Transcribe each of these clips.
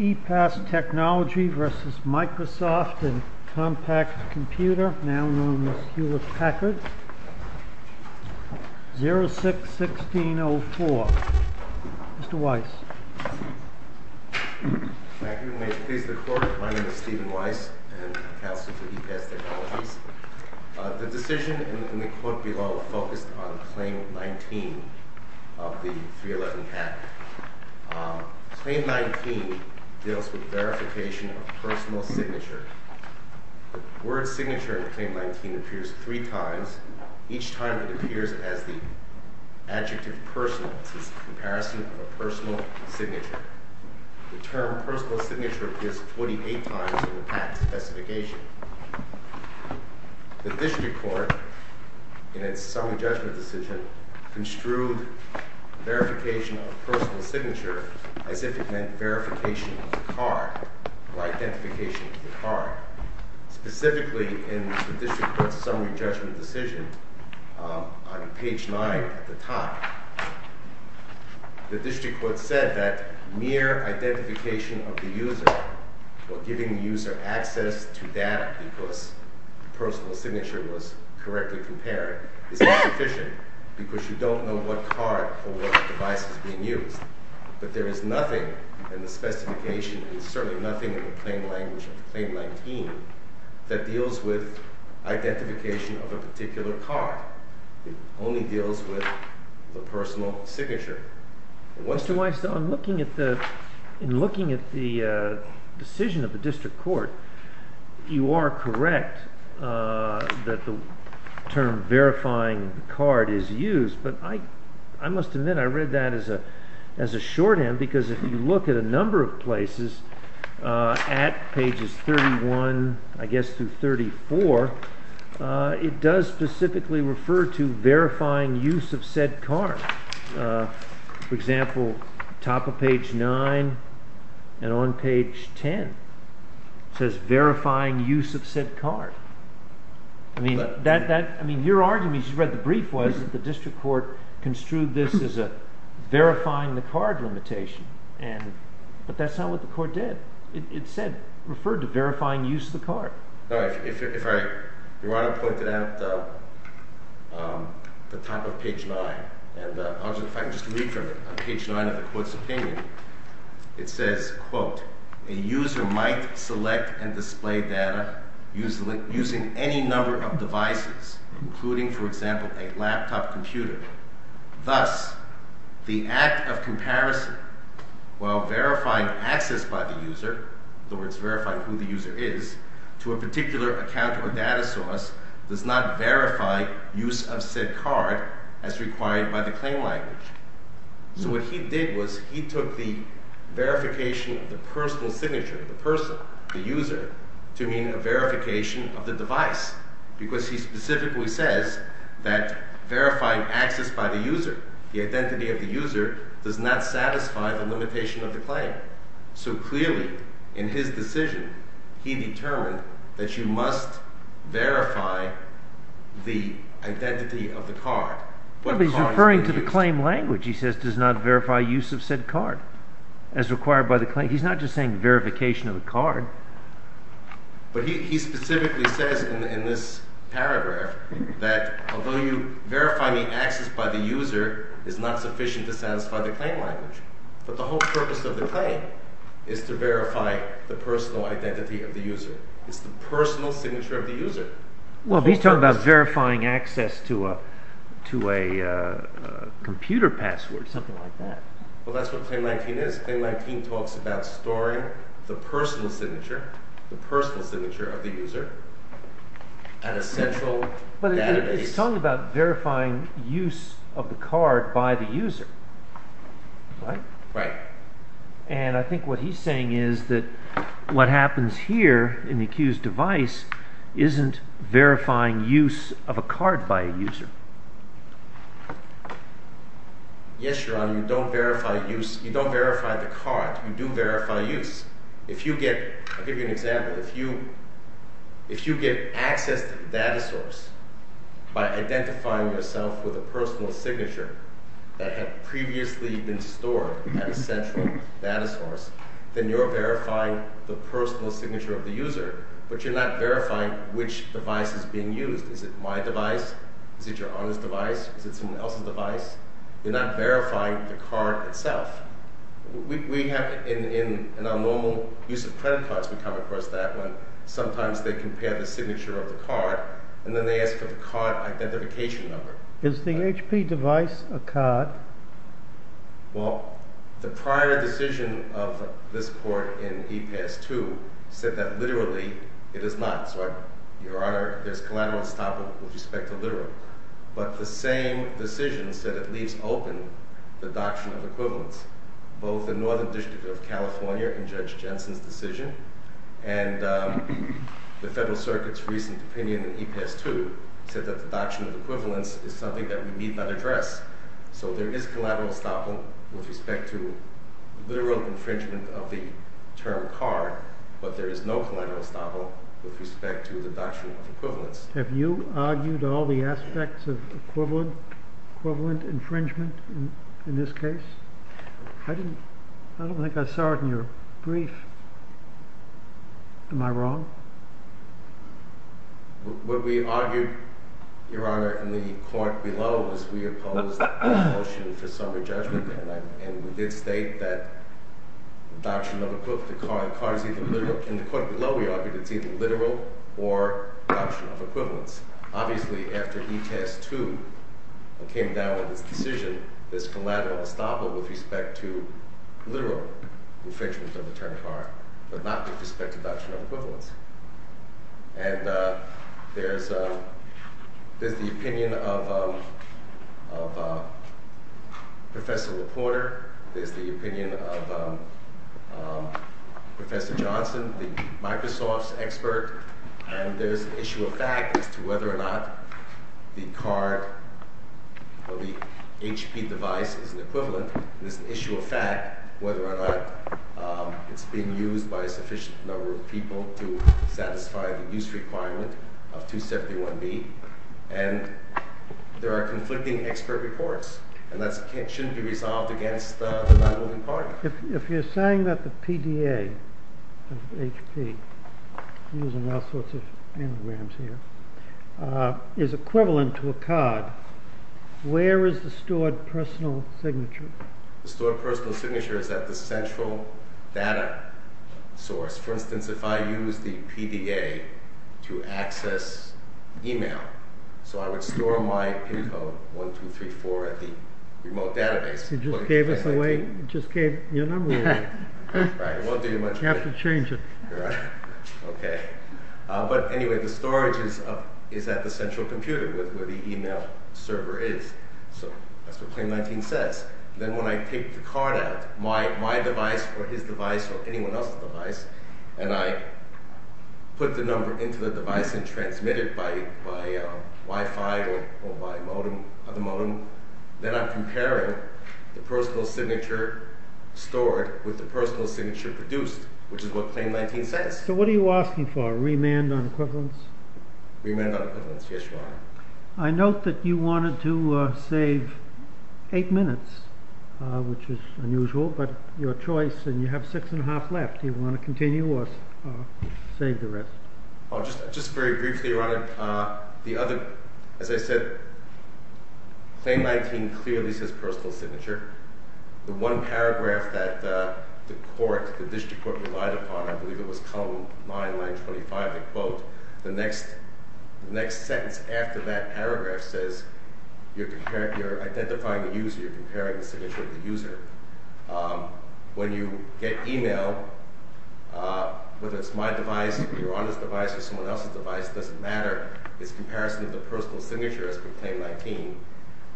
E-Pass Technologies v. Microsoft and Compact Computer, now known as Hewlett-Packard, 06-1604. Mr. Weiss. Thank you. May it please the Court, my name is Stephen Weiss, and I'm Counselor for E-Pass Technologies. The decision in the Court below focused on Claim 19 of the 311 Act. Claim 19 deals with verification of personal signature. The word signature in Claim 19 appears three times. Each time it appears as the adjective personal. This is a comparison of a personal signature. The term personal signature appears 28 times in the Act specification. The District Court, in its summary judgment decision, construed verification of personal signature as if it meant verification of the card or identification of the card. Specifically, in the District Court's summary judgment decision, on page 9 at the top, the District Court said that mere identification of the user or giving the user access to data because personal signature was correctly compared is not sufficient because you don't know what card or what device is being used. But there is nothing in the specification, and certainly nothing in the claim language of Claim 19, that deals with identification of a particular card. It only deals with the personal signature. Mr. Weiss, in looking at the decision of the District Court, you are correct that the term verifying card is used, but I must admit I read that as a shorthand because if you look at a number of places at pages 31 through 34, it does specifically refer to verifying use of said card. For example, at the top of page 9 and on page 10 it says verifying use of said card. Your argument, you read the brief, was that the District Court construed this as a verifying the card limitation, but that's not what the Court did. It referred to verifying use of the card. If I were to point it out at the top of page 9, and if I could just read from page 9 of the Court's opinion, it says, quote, a user might select and display data using any number of devices, including, for example, a laptop computer. Thus, the act of comparison, while verifying access by the user, in other words, verifying who the user is, to a particular account or data source, does not verify use of said card as required by the claim language. So what he did was he took the verification of the personal signature, the person, the user, to mean a verification of the device because he specifically says that verifying access by the user, the identity of the user, does not satisfy the limitation of the claim. So clearly, in his decision, he determined that you must verify the identity of the card. But he's referring to the claim language. He says does not verify use of said card as required by the claim. He's not just saying verification of a card. But he specifically says in this paragraph that although you verify the access by the user, it's not sufficient to satisfy the claim language. But the whole purpose of the claim is to verify the personal identity of the user. It's the personal signature of the user. Well, he's talking about verifying access to a computer password, something like that. Well, that's what Claim 19 is. Claim 19 talks about storing the personal signature, the personal signature of the user, at a central database. But it's talking about verifying use of the card by the user. Right? Right. And I think what he's saying is that what happens here in the accused device isn't verifying use of a card by a user. Yes, Your Honor. You don't verify use. You don't verify the card. You do verify use. If you get, I'll give you an example. If you get access to the data source by identifying yourself with a personal signature that had previously been stored at a central data source, then you're verifying the personal signature of the user, but you're not verifying which device is being used. Is it my device? Is it Your Honor's device? Is it someone else's device? You're not verifying the card itself. In our normal use of credit cards, we come across that one. Sometimes they compare the signature of the card, and then they ask for the card identification number. Is the HP device a card? Well, the prior decision of this court in EPAS 2 said that literally it is not. So, Your Honor, there's collateral on this topic with respect to literal. But the same decision said it leaves open the doctrine of equivalence. Both the Northern District of California and Judge Jensen's decision and the Federal Circuit's recent opinion in EPAS 2 said that the doctrine of equivalence is something that we need not address. So there is collateral estoppel with respect to literal infringement of the term card, but there is no collateral estoppel with respect to the doctrine of equivalence. Have you argued all the aspects of equivalent infringement in this case? I don't think I saw it in your brief. Am I wrong? What we argued, Your Honor, in the court below was we opposed the motion for summary judgment, and we did state that the doctrine of equivalence in the court below we argued it's either literal or the doctrine of equivalence. Obviously, after EPAS 2 came down with this decision, there's collateral estoppel with respect to literal infringement of the term card, but not with respect to the doctrine of equivalence. And there's the opinion of Professor LaPorter, there's the opinion of Professor Johnson, the Microsoft expert, and there's an issue of fact as to whether or not the card or the HP device is an equivalent. There's an issue of fact whether or not it's being used by a sufficient number of people to satisfy the use requirement of 271B, and there are conflicting expert reports, and that shouldn't be resolved against the non-willing party. If you're saying that the PDA of HP, using all sorts of anagrams here, is equivalent to a card, where is the stored personal signature? The stored personal signature is at the central data source. For instance, if I use the PDA to access email, so I would store my PIN code, 1234, at the remote database. You just gave your number away. Right, it won't do you much good. You have to change it. Okay. But anyway, the storage is at the central computer, where the email server is. So that's what Claim 19 says. Then when I take the card out, my device, or his device, or anyone else's device, and I put the number into the device and transmit it by Wi-Fi or by other modem, then I'm comparing the personal signature stored with the personal signature produced, which is what Claim 19 says. So what are you asking for? A remand on equivalence? Remand on equivalence, yes, Your Honor. I note that you wanted to save eight minutes, which is unusual, but your choice, and you have six and a half left. Do you want to continue or save the rest? Just very briefly, Your Honor, the other, as I said, Claim 19 clearly says personal signature. The one paragraph that the court, the district court relied upon, I believe it was column 9, line 25, the quote, the next sentence after that paragraph says you're identifying a user, so you're comparing the signature of the user. When you get email, whether it's my device, Your Honor's device, or someone else's device, it doesn't matter. It's a comparison of the personal signature as per Claim 19.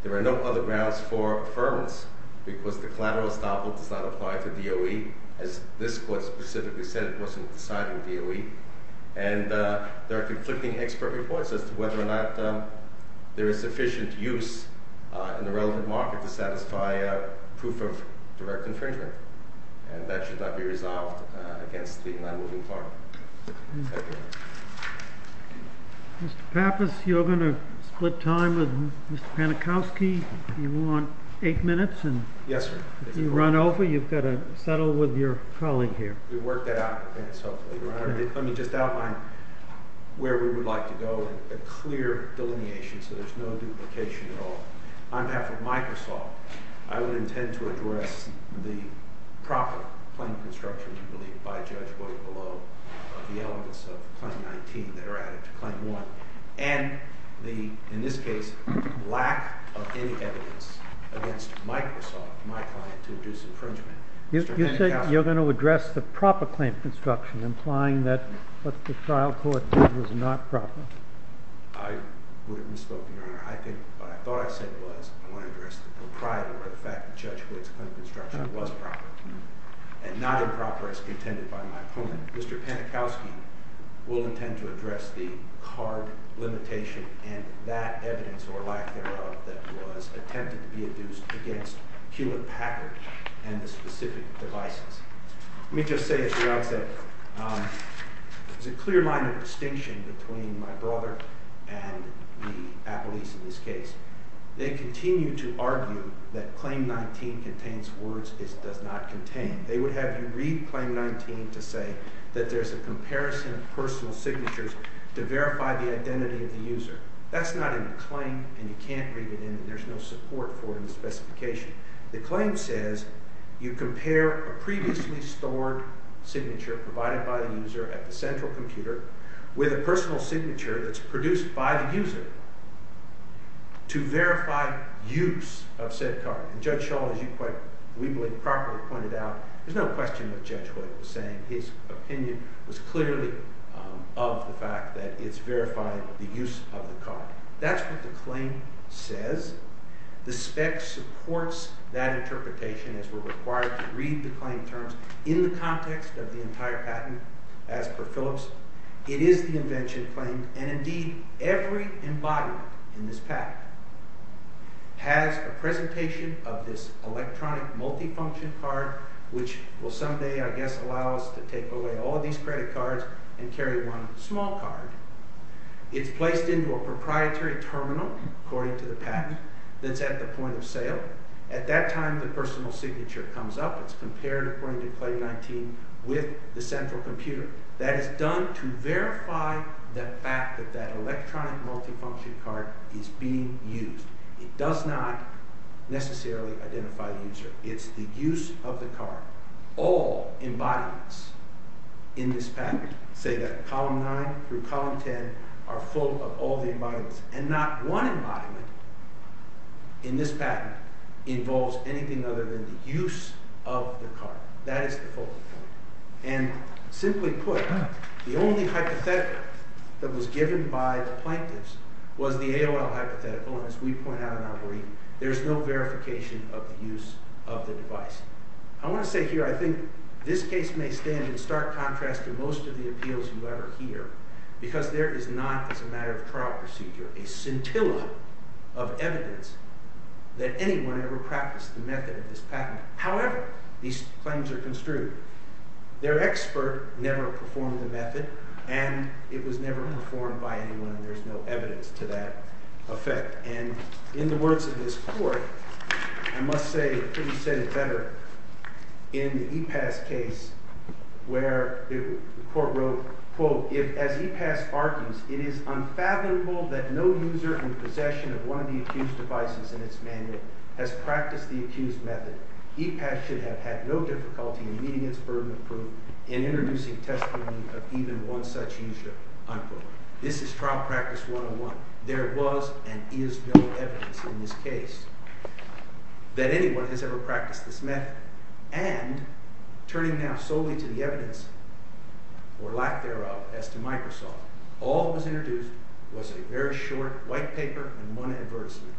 There are no other grounds for affirmance because the collateral estoppel does not apply to DOE. As this court specifically said, it wasn't decided with DOE. And there are conflicting expert reports as to whether or not there is sufficient use in the relevant market to satisfy proof of direct infringement. And that should not be resolved against the non-moving part. Thank you. Mr. Pappas, you're going to split time with Mr. Panikowski. You want eight minutes? Yes, sir. If you run over, you've got to settle with your colleague here. We worked that out. Let me just outline where we would like to go in a clear delineation so there's no duplication at all. On behalf of Microsoft, I would intend to address the proper claim construction, I believe, by Judge Boyd Below of the elements of Claim 19 that are added to Claim 1. And in this case, lack of any evidence against Microsoft, my client, to induce infringement. You said you're going to address the proper claim construction, implying that what the trial court did was not proper. I would have misspoken, Your Honor. I think what I thought I said was I want to address the proprietor, or the fact that Judge Boyd's claim construction was proper, and not improper as contended by my opponent. Mr. Panikowski will intend to address the card limitation and that evidence, or lack thereof, that was attempted to be induced against Hewlett Packard and the specific devices. Let me just say, as you all said, there's a clear line of distinction between my brother and the appellees in this case. They continue to argue that Claim 19 contains words it does not contain. They would have you read Claim 19 to say that there's a comparison of personal signatures to verify the identity of the user. That's not in the claim, and you can't read it in, and there's no support for it in the specification. The claim says you compare a previously stored signature provided by the user at the central computer with a personal signature that's produced by the user to verify use of said card. And Judge Shull, as you quite weakly and properly pointed out, there's no question that Judge Hoyt was saying his opinion was clearly of the fact that it's verifying the use of the card. That's what the claim says. The spec supports that interpretation as we're required to read the claim terms in the context of the entire patent as per Phillips. It is the invention claimed, and indeed, every embodiment in this patent has a presentation of this electronic multifunction card which will someday, I guess, allow us to take away all these credit cards and carry one small card. It's placed into a proprietary terminal, according to the patent, that's at the point of sale. At that time, the personal signature comes up. It's compared, according to Claim 19, with the central computer. That is done to verify the fact that that electronic multifunction card is being used. It does not necessarily identify the user. It's the use of the card. All embodiments in this patent, say that column 9 through column 10, are full of all the embodiments. And not one embodiment in this patent involves anything other than the use of the card. That is the focal point. And, simply put, the only hypothetical that was given by the plaintiffs was the AOL hypothetical, and as we point out in our brief, there is no verification of the use of the device. I want to say here, I think this case may stand in stark contrast to most of the appeals you ever hear, because there is not, as a matter of trial procedure, a scintilla of evidence that anyone ever practiced the method of this patent. However, these claims are construed. Their expert never performed the method, and it was never performed by anyone, and there is no evidence to that effect. And, in the words of this court, I must say, couldn't have said it better, in the EPAS case, where the court wrote, quote, if, as EPAS argues, it is unfathomable that no user in possession of one of the accused devices in its manual has practiced the accused method, EPAS should have had no difficulty in meeting its burden of proof in introducing testimony of even one such user. Unquote. This is trial practice 101. There was and is no evidence in this case that anyone has ever practiced this method. And, turning now solely to the evidence, or lack thereof, as to Microsoft, all that was introduced was a very short white paper and one advertisement.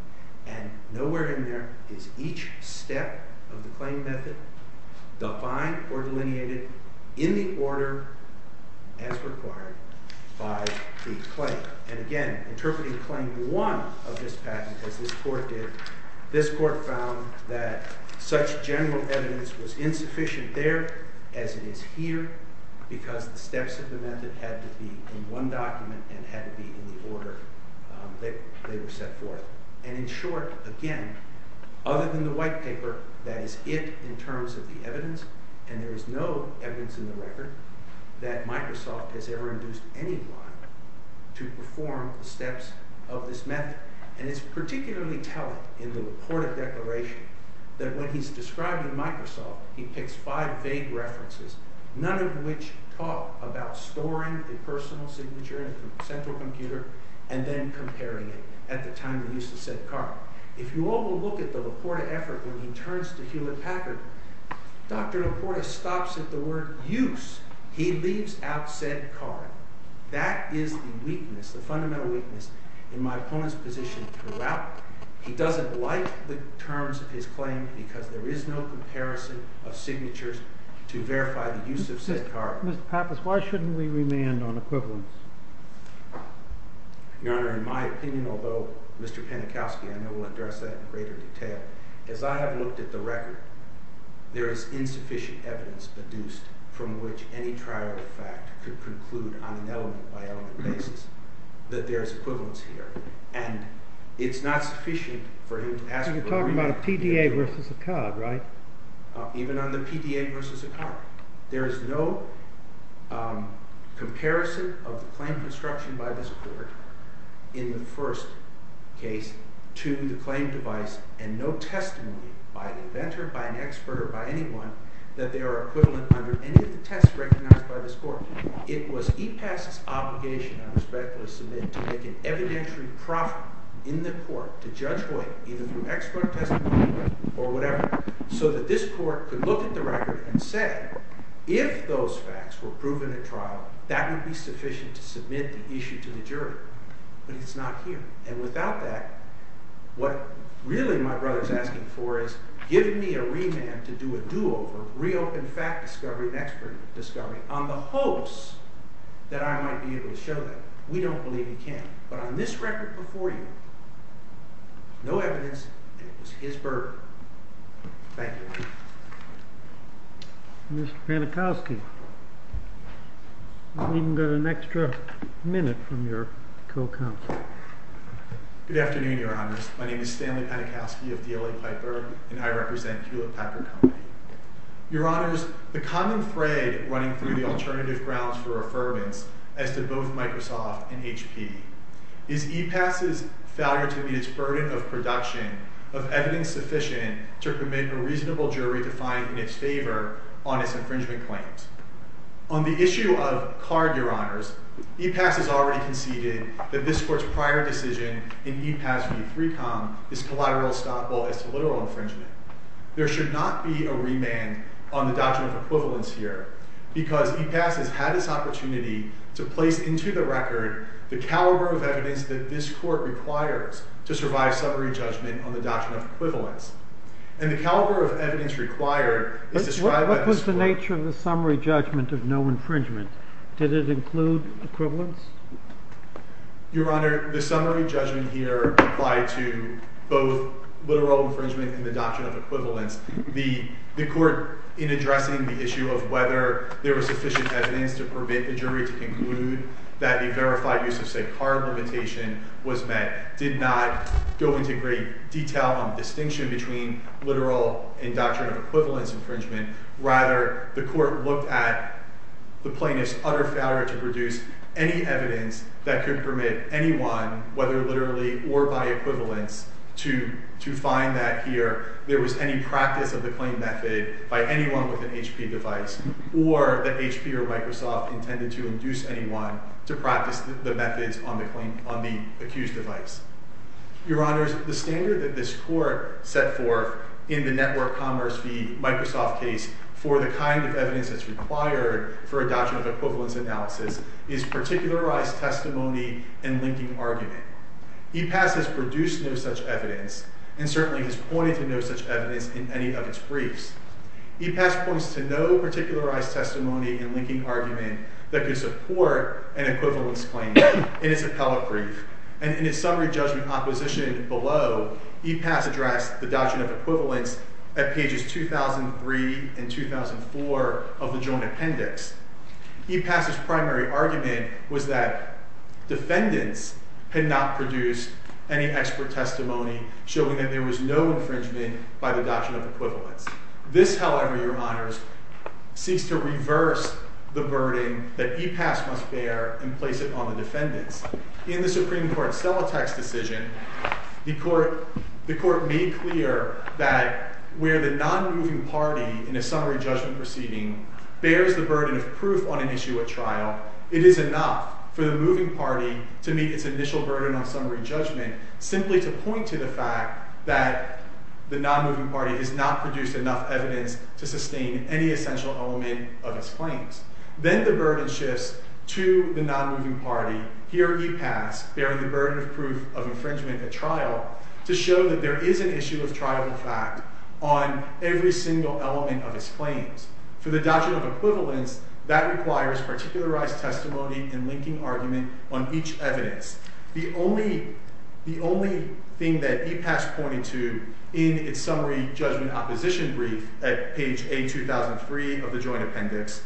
And nowhere in there is each step of the claim method defined or delineated in the order as required by the claim. And, again, interpreting Claim 1 of this patent, as this court did, this court found that such general evidence was insufficient there as it is here, because the steps of the method had to be in one document and had to be in the order that they were set forth. And, in short, again, other than the white paper, that is it in terms of the evidence, and there is no evidence in the record that Microsoft has ever induced anyone to perform the steps of this method. And it's particularly telling in the reported declaration that when he's describing Microsoft, he picks five vague references, none of which talk about storing a personal signature in a central computer and then comparing it at the time of the use of said card. If you overlook the reported effort when he turns to Hewlett Packard, Dr. Laporta stops at the word use. He leaves out said card. That is the weakness, the fundamental weakness in my opponent's position throughout. He doesn't like the terms of his claim because there is no comparison of signatures to verify the use of said card. Mr. Pappas, why shouldn't we remand on equivalence? Your Honor, in my opinion, although Mr. Panikowsky I know will address that in greater detail, as I have looked at the record, there is insufficient evidence produced from which any trial of fact could conclude on an element-by-element basis that there is equivalence here. And it's not sufficient for him to ask for a remand. You're talking about a PDA versus a card, right? Even on the PDA versus a card. There is no comparison of the claim construction by this Court in the first case to the claim device and no testimony by an inventor, by an expert, or by anyone that they are equivalent under any of the tests recognized by this Court. It was EPAS's obligation under Specialist Submit to make an evidentiary profit in the Court to Judge Hoyt either through expert testimony or whatever so that this Court could look at the record and say if those facts were proven at trial, that would be sufficient to submit the issue to the jury. But it's not here. And without that, what really my brother's asking for is give me a remand to do a do-over, reopen fact discovery and expert discovery on the hopes that I might be able to show that. We don't believe he can. But on this record before you, no evidence and it was his burden. Thank you. Mr. Panikowsky, you've even got an extra minute from your co-counsel. Good afternoon, Your Honors. My name is Stanley Panikowsky of D.L.A. Piper and I represent Hewlett Packard Company. Your Honors, the common thread running through the alternative grounds for affirmance as to both Microsoft and HP is EPAS's failure to meet its burden of production of evidence sufficient to commit a reasonable jury to find in its favor on its infringement claims. On the issue of card, Your Honors, EPAS has already conceded that this court's prior decision in EPAS v. 3Com is collateral stop while it's a literal infringement. There should not be a remand on the Doctrine of Equivalence here because EPAS has had this opportunity to place into the record the caliber of evidence that this court requires to survive summary judgment on the Doctrine of Equivalence. And the caliber of evidence required is described by this court. What was the nature of the summary judgment of no infringement? Did it include equivalence? Your Honor, the summary judgment here applied to both literal infringement and the Doctrine of Equivalence. The court, in addressing the issue of whether there was sufficient evidence to permit the jury to conclude that a verified use of, say, card limitation was met, did not go into great detail on the distinction between literal and Doctrine of Equivalence infringement. Rather, the court looked at the plaintiff's utter failure to produce any evidence that could permit anyone, whether literally or by equivalence, to find that here there was any practice of the claim method by anyone with an HP device or that HP or Microsoft intended to induce anyone to practice the methods on the accused device. Your Honor, the standard that this court set forth in the Network Commerce v. Microsoft case for the kind of evidence that's required for a Doctrine of Equivalence is particularized testimony and linking argument. EPAS has produced no such evidence and certainly has pointed to no such evidence in any of its briefs. EPAS points to no particularized testimony and linking argument that could support an equivalence claim in its appellate brief. And in its summary judgment opposition below, EPAS addressed the Doctrine of Equivalence at pages 2003 and 2004 of the Joint Appendix. EPAS's primary argument was that defendants had not produced any expert testimony showing that there was no infringement by the Doctrine of Equivalence. This, however, Your Honors, seeks to reverse the burden that EPAS must bear and place it on the defendants. In the Supreme Court's Celotax decision, the Court made clear that where the nonmoving party in a summary judgment proceeding bears the burden of proof on an issue at trial, it is enough for the moving party to meet its initial burden on summary judgment simply to point to the fact that the nonmoving party has not produced enough evidence to sustain any essential element of its claims. Then the burden shifts to the nonmoving party, here EPAS, bearing the burden of proof of infringement at trial, to show that there is an issue of trial in fact on every single element of its claims. For the Doctrine of Equivalence, that requires particularized testimony and linking argument on each evidence. The only thing that EPAS pointed to in its summary judgment opposition brief at page A2003 of the Joint Appendix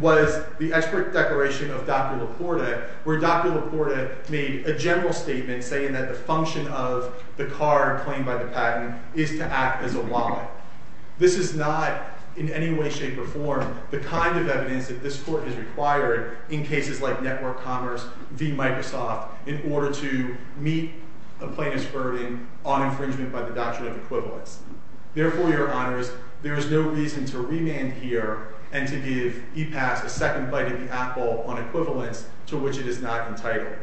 was the expert declaration of Dr. Laporta, where Dr. Laporta made a general statement saying that the function of the card claimed by the patent is to act as a wallet. This is not, in any way, shape, or form, the kind of evidence that this Court has required in cases like Network Commerce v. Microsoft in order to meet a plaintiff's burden on infringement by the Doctrine of Equivalence. Therefore, Your Honors, there is no reason to remand here and to give EPAS a second bite at the apple on equivalence to which it is not entitled.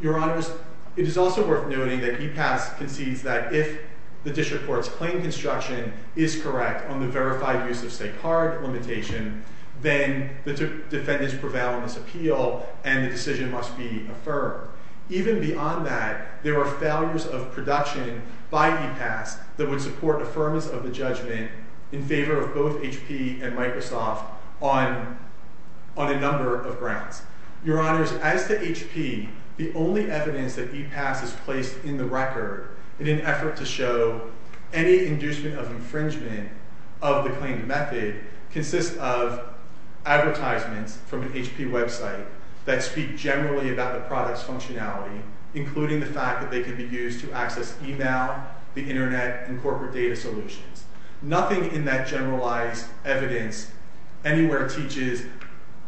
Your Honors, it is also worth noting that EPAS concedes that if the District Court's claim construction is correct on the verified use of state card limitation, then the defendant's prevalence appeal and the decision must be affirmed. Even beyond that, there are failures of production by EPAS that would support affirmance of the judgment in favor of both HP and Microsoft on a number of grounds. Your Honors, as to HP, the only evidence that EPAS has placed in the record in an effort to show any inducement of infringement of the claimed method consists of advertisements from an HP website that speak generally about the product's functionality, including the fact that they can be used to access email, the internet, and corporate data solutions. Nothing in that generalized evidence anywhere teaches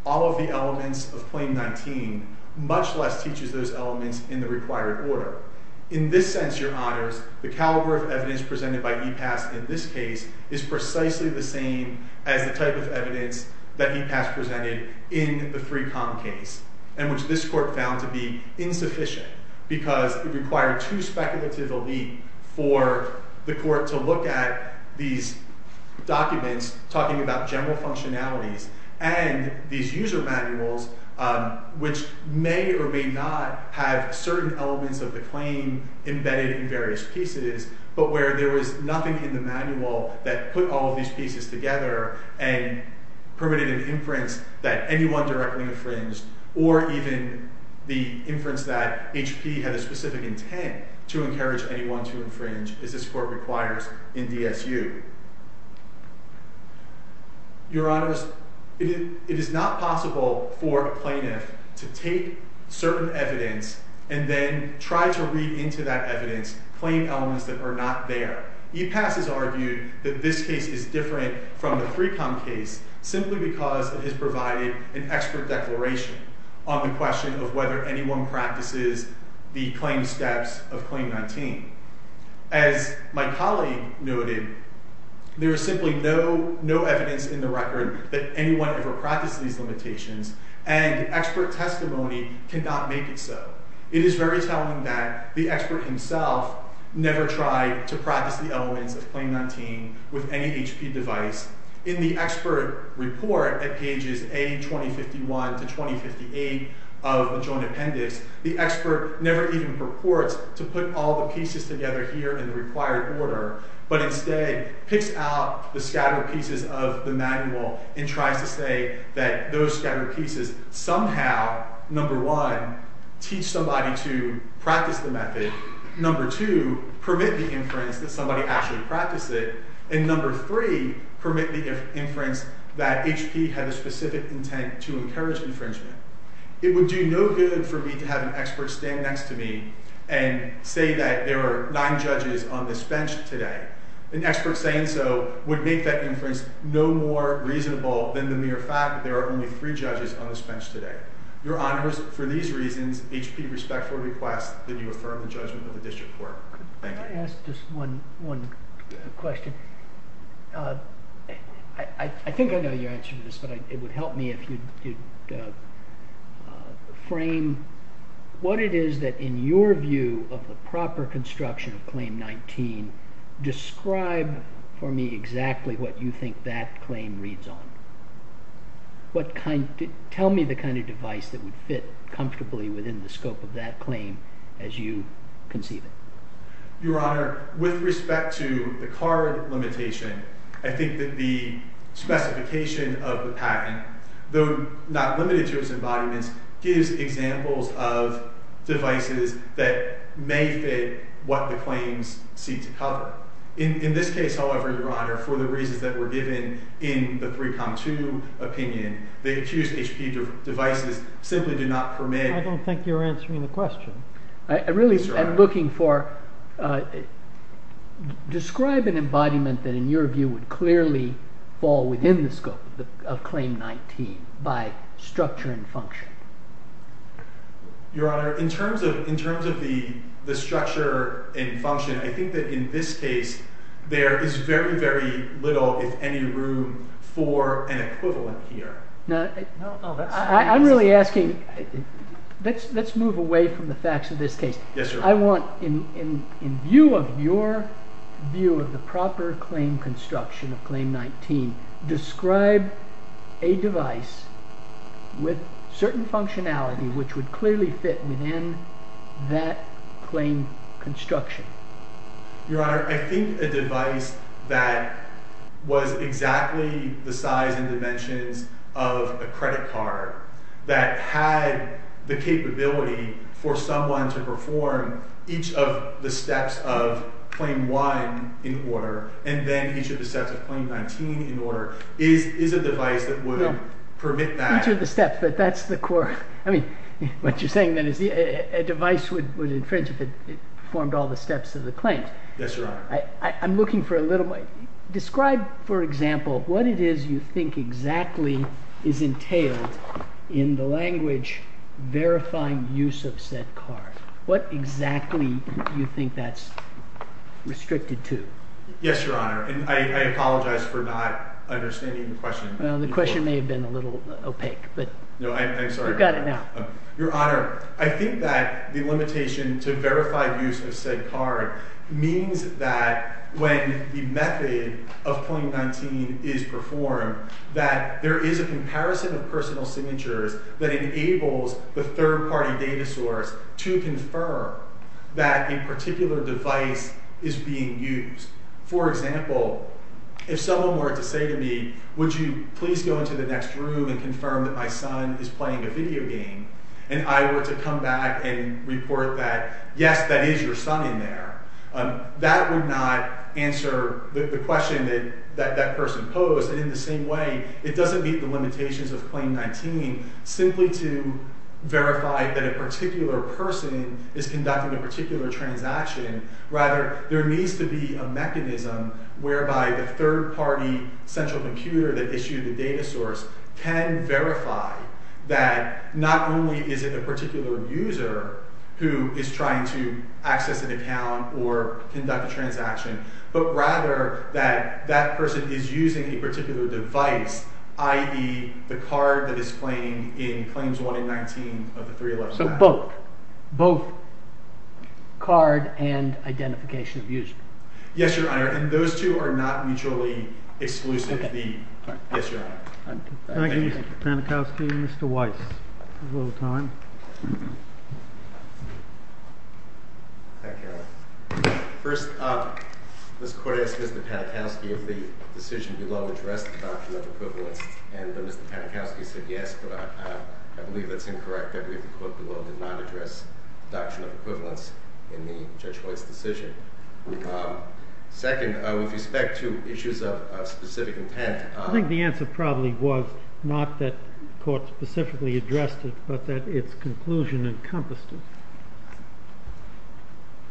all of the elements of Claim 19, much less teaches those elements in the required order. In this sense, Your Honors, the caliber of evidence presented by EPAS in this case is precisely the same as the type of evidence that EPAS presented in the FREECOM case, and which this court found to be insufficient because it required two speculative elite for the court to look at these documents talking about general functionalities and these user manuals which may or may not have certain elements of the claim embedded in various pieces, but where there was nothing in the manual that put all of these pieces together and permitted an inference that anyone directly infringed, or even the inference that HP had a specific intent to encourage anyone to infringe, as this court requires in DSU. Your Honors, it is not possible for a plaintiff to take certain evidence and then try to read into that evidence claim elements that are not there. EPAS has argued that this case is different from the FREECOM case simply because it has provided an expert declaration on the question of whether anyone practices the claim steps of Claim 19. As my colleague noted, there is simply no evidence in the record that anyone ever practiced these limitations, and expert testimony cannot make it so. It is very telling that the expert himself never tried to practice the elements of Claim 19 with any HP device. In the expert report at pages A-2051-2058 of the joint appendix, the expert never even purports to put all the pieces together here in the required order, but instead picks out the scattered pieces of the manual and tries to say that those scattered pieces somehow, number one, teach somebody to practice the method, number two, permit the inference that somebody actually practiced it, and number three, permit the inference that HP had a specific intent to encourage infringement. It would do no good for me to have an expert stand next to me and say that there are nine judges on this bench today. An expert saying so would make that inference no more reasonable than the mere fact that there are only three judges on this bench today. Your Honors, for these reasons, HP respectfully requests that you affirm the judgment of the district court. Thank you. Can I ask just one question? I think I know your answer to this, but it would help me if you'd frame what it is that, in your view, of the proper construction of Claim 19. Describe for me exactly what you think that claim reads on. Tell me the kind of device that would fit comfortably within the scope of that claim as you conceive it. Your Honor, with respect to the card limitation, I think that the specification of the patent, though not limited to its embodiments, gives examples of devices that may fit what the claims seek to cover. In this case, however, Your Honor, for the reasons that were given in the 3Com2 opinion, the accused HP devices simply do not permit I don't think you're answering the question. Really, I'm looking for describe an embodiment that, in your view, would clearly fall within the scope of Claim 19 by structure and function. Your Honor, in terms of the structure and function, I think that in this case, there is very, very little, if any, room for an equivalent here. I'm really asking let's move away from the facts of this case. I want, in view of your view of the proper claim construction of Claim 19, describe a device with certain functionality which would clearly fit within that claim construction. Your Honor, I think a device that was exactly the size and dimensions of a credit card that had the capability for someone to perform each of the steps of Claim 1 in order and then each of the steps of Claim 19 in order is a device that would permit that. Each of the steps, but that's the core. I mean, what you're saying then is a device would infringe if it performed all the steps of the claims. Yes, Your Honor. I'm looking for a little more. Describe, for example, what it is you think exactly is entailed in the language verifying use of said card. What exactly do you think that's restricted to? Yes, Your Honor. And I apologize for not understanding the question. Well, the question may have been a little opaque, but... No, I'm sorry. You've got it now. Your Honor, I think that the limitation to verified use of said card means that when the method of Claim 19 is performed, that there is a comparison of personal signatures that enables the third-party data source to confirm that a particular device is being used. For example, if someone were to say to me, would you please go into the next room and confirm that my son is playing a video game, and I were to come back and report that, yes, that is your son in there, that would not answer the question that that person posed. And in the same way, it doesn't meet the limitations of Claim 19 simply to verify that a particular person is conducting a particular transaction. Rather, there needs to be a mechanism whereby the third-party central computer that issued the data source can verify that not only is it a particular user, who is trying to access an account or conduct a transaction, but rather that that person is using a particular device, i.e., the card that is claimed in Claims 1 and 19 of the 311 Act. So both? Both card and identification of user? Yes, Your Honor, and those two are not mutually exclusive. Yes, Your Honor. Thank you, Mr. Panikowski and Mr. Weiss. We have a little time. Hi, Carol. First, this Court asked Mr. Panikowski if the decision below addressed the doctrine of equivalence, and Mr. Panikowski said yes, but I believe that's incorrect that we at the Court below did not address the doctrine of equivalence in Judge White's decision. Second, with respect to issues of specific intent, I think the answer probably was not that the Court specifically addressed it, but that its conclusion encompassed it.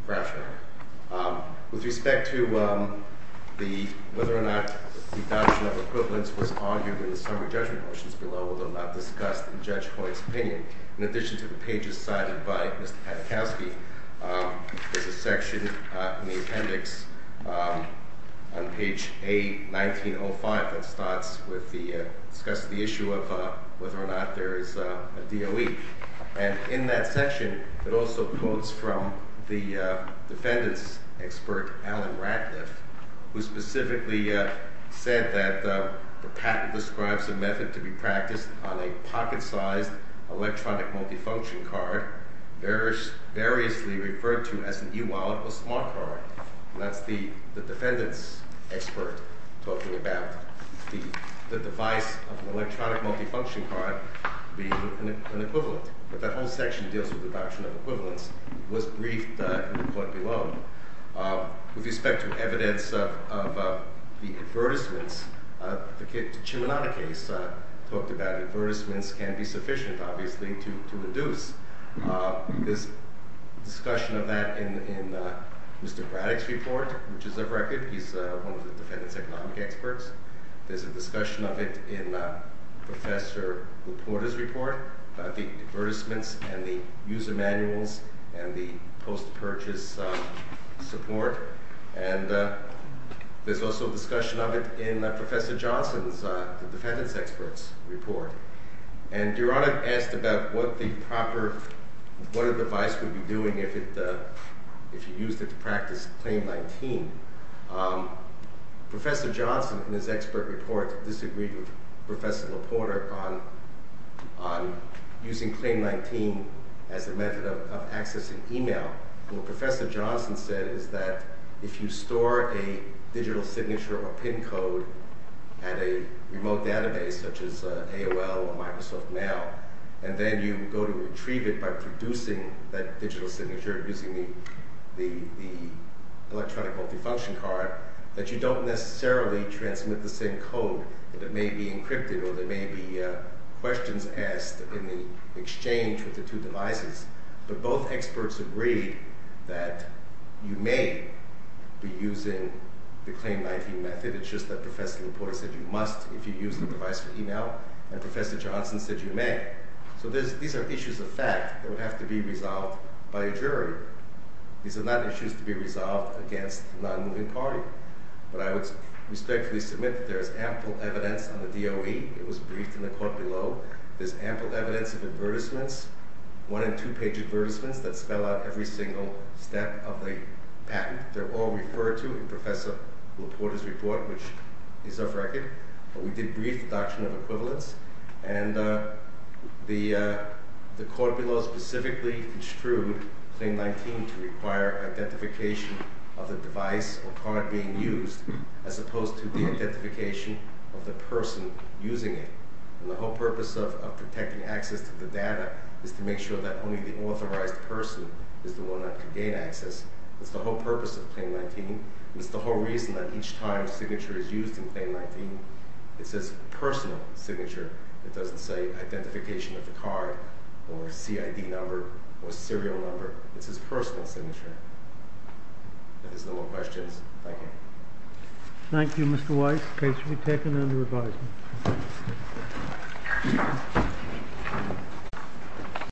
Rationally. With respect to whether or not the doctrine of equivalence was argued in the summary judgment motions below although not discussed in Judge White's opinion, in addition to the pages cited by Mr. Panikowski, there's a section in the appendix on page A1905 that starts with the discussion of the issue of whether or not there is a DOE, and in that section it also quotes from the defendant's expert Alan Ratliff, who specifically said that the patent describes a method to be practiced on a pocket-sized electronic multifunction card variously referred to as an e-wallet or smart card, and that's the defendant's expert talking about the device of an electronic multifunction card being an equivalent. But that whole section deals with the doctrine of equivalence. It was briefed in the court below. With respect to evidence of the advertisements, the Chimanata case talked about advertisements can be sufficient, obviously, to induce. There's discussion of that in Mr. Braddock's report, which is a record. He's one of the defendant's economic experts. There's a discussion of it in Professor Laporta's report about the advertisements and the user manuals and the post-purchase support, and there's also a discussion of it in Professor Johnson's defendant's experts report. And Your Honor asked about what the proper... what a device would be doing if it... if you used it to practice Claim 19. Professor Johnson, in his expert report, disagreed with Professor Laporta on using Claim 19 as a method of accessing email. What Professor Johnson said is that if you store a digital signature or PIN code at a remote database, such as AOL or Microsoft Now, and then you go to retrieve it by producing that digital signature using the electronic multifunction card, that you don't necessarily transmit the same code. It may be encrypted or there may be questions asked in the exchange with the two devices. But both experts agreed that you may be using the Claim 19 method. It's just that Professor Laporta said you must if you use the device for email, and Professor Johnson said you may. So these are issues of fact that would have to be resolved by a jury. These are not issues to be resolved against a non-moving party. But I would respectfully submit that there is ample evidence on the DOE. It was briefed in the court below. There's ample evidence of advertisements, one- and two-page advertisements, that spell out every single step of the patent. They're all referred to in Professor Laporta's report, which is off record. But we did brief the doctrine of equivalence. And the court below specifically construed Claim 19 to require identification of the device or card being used as opposed to the identification of the person using it. And the whole purpose of protecting access to the data is to make sure that only the authorized person is the one that can gain access. That's the whole purpose of Claim 19. And it's the whole reason that each time a signature is used in Claim 19, it's his personal signature. It doesn't say identification of the card or CID number or serial number. It's his personal signature. If there's no more questions, thank you. Thank you, Mr. Weiss. Case will be taken under advisement.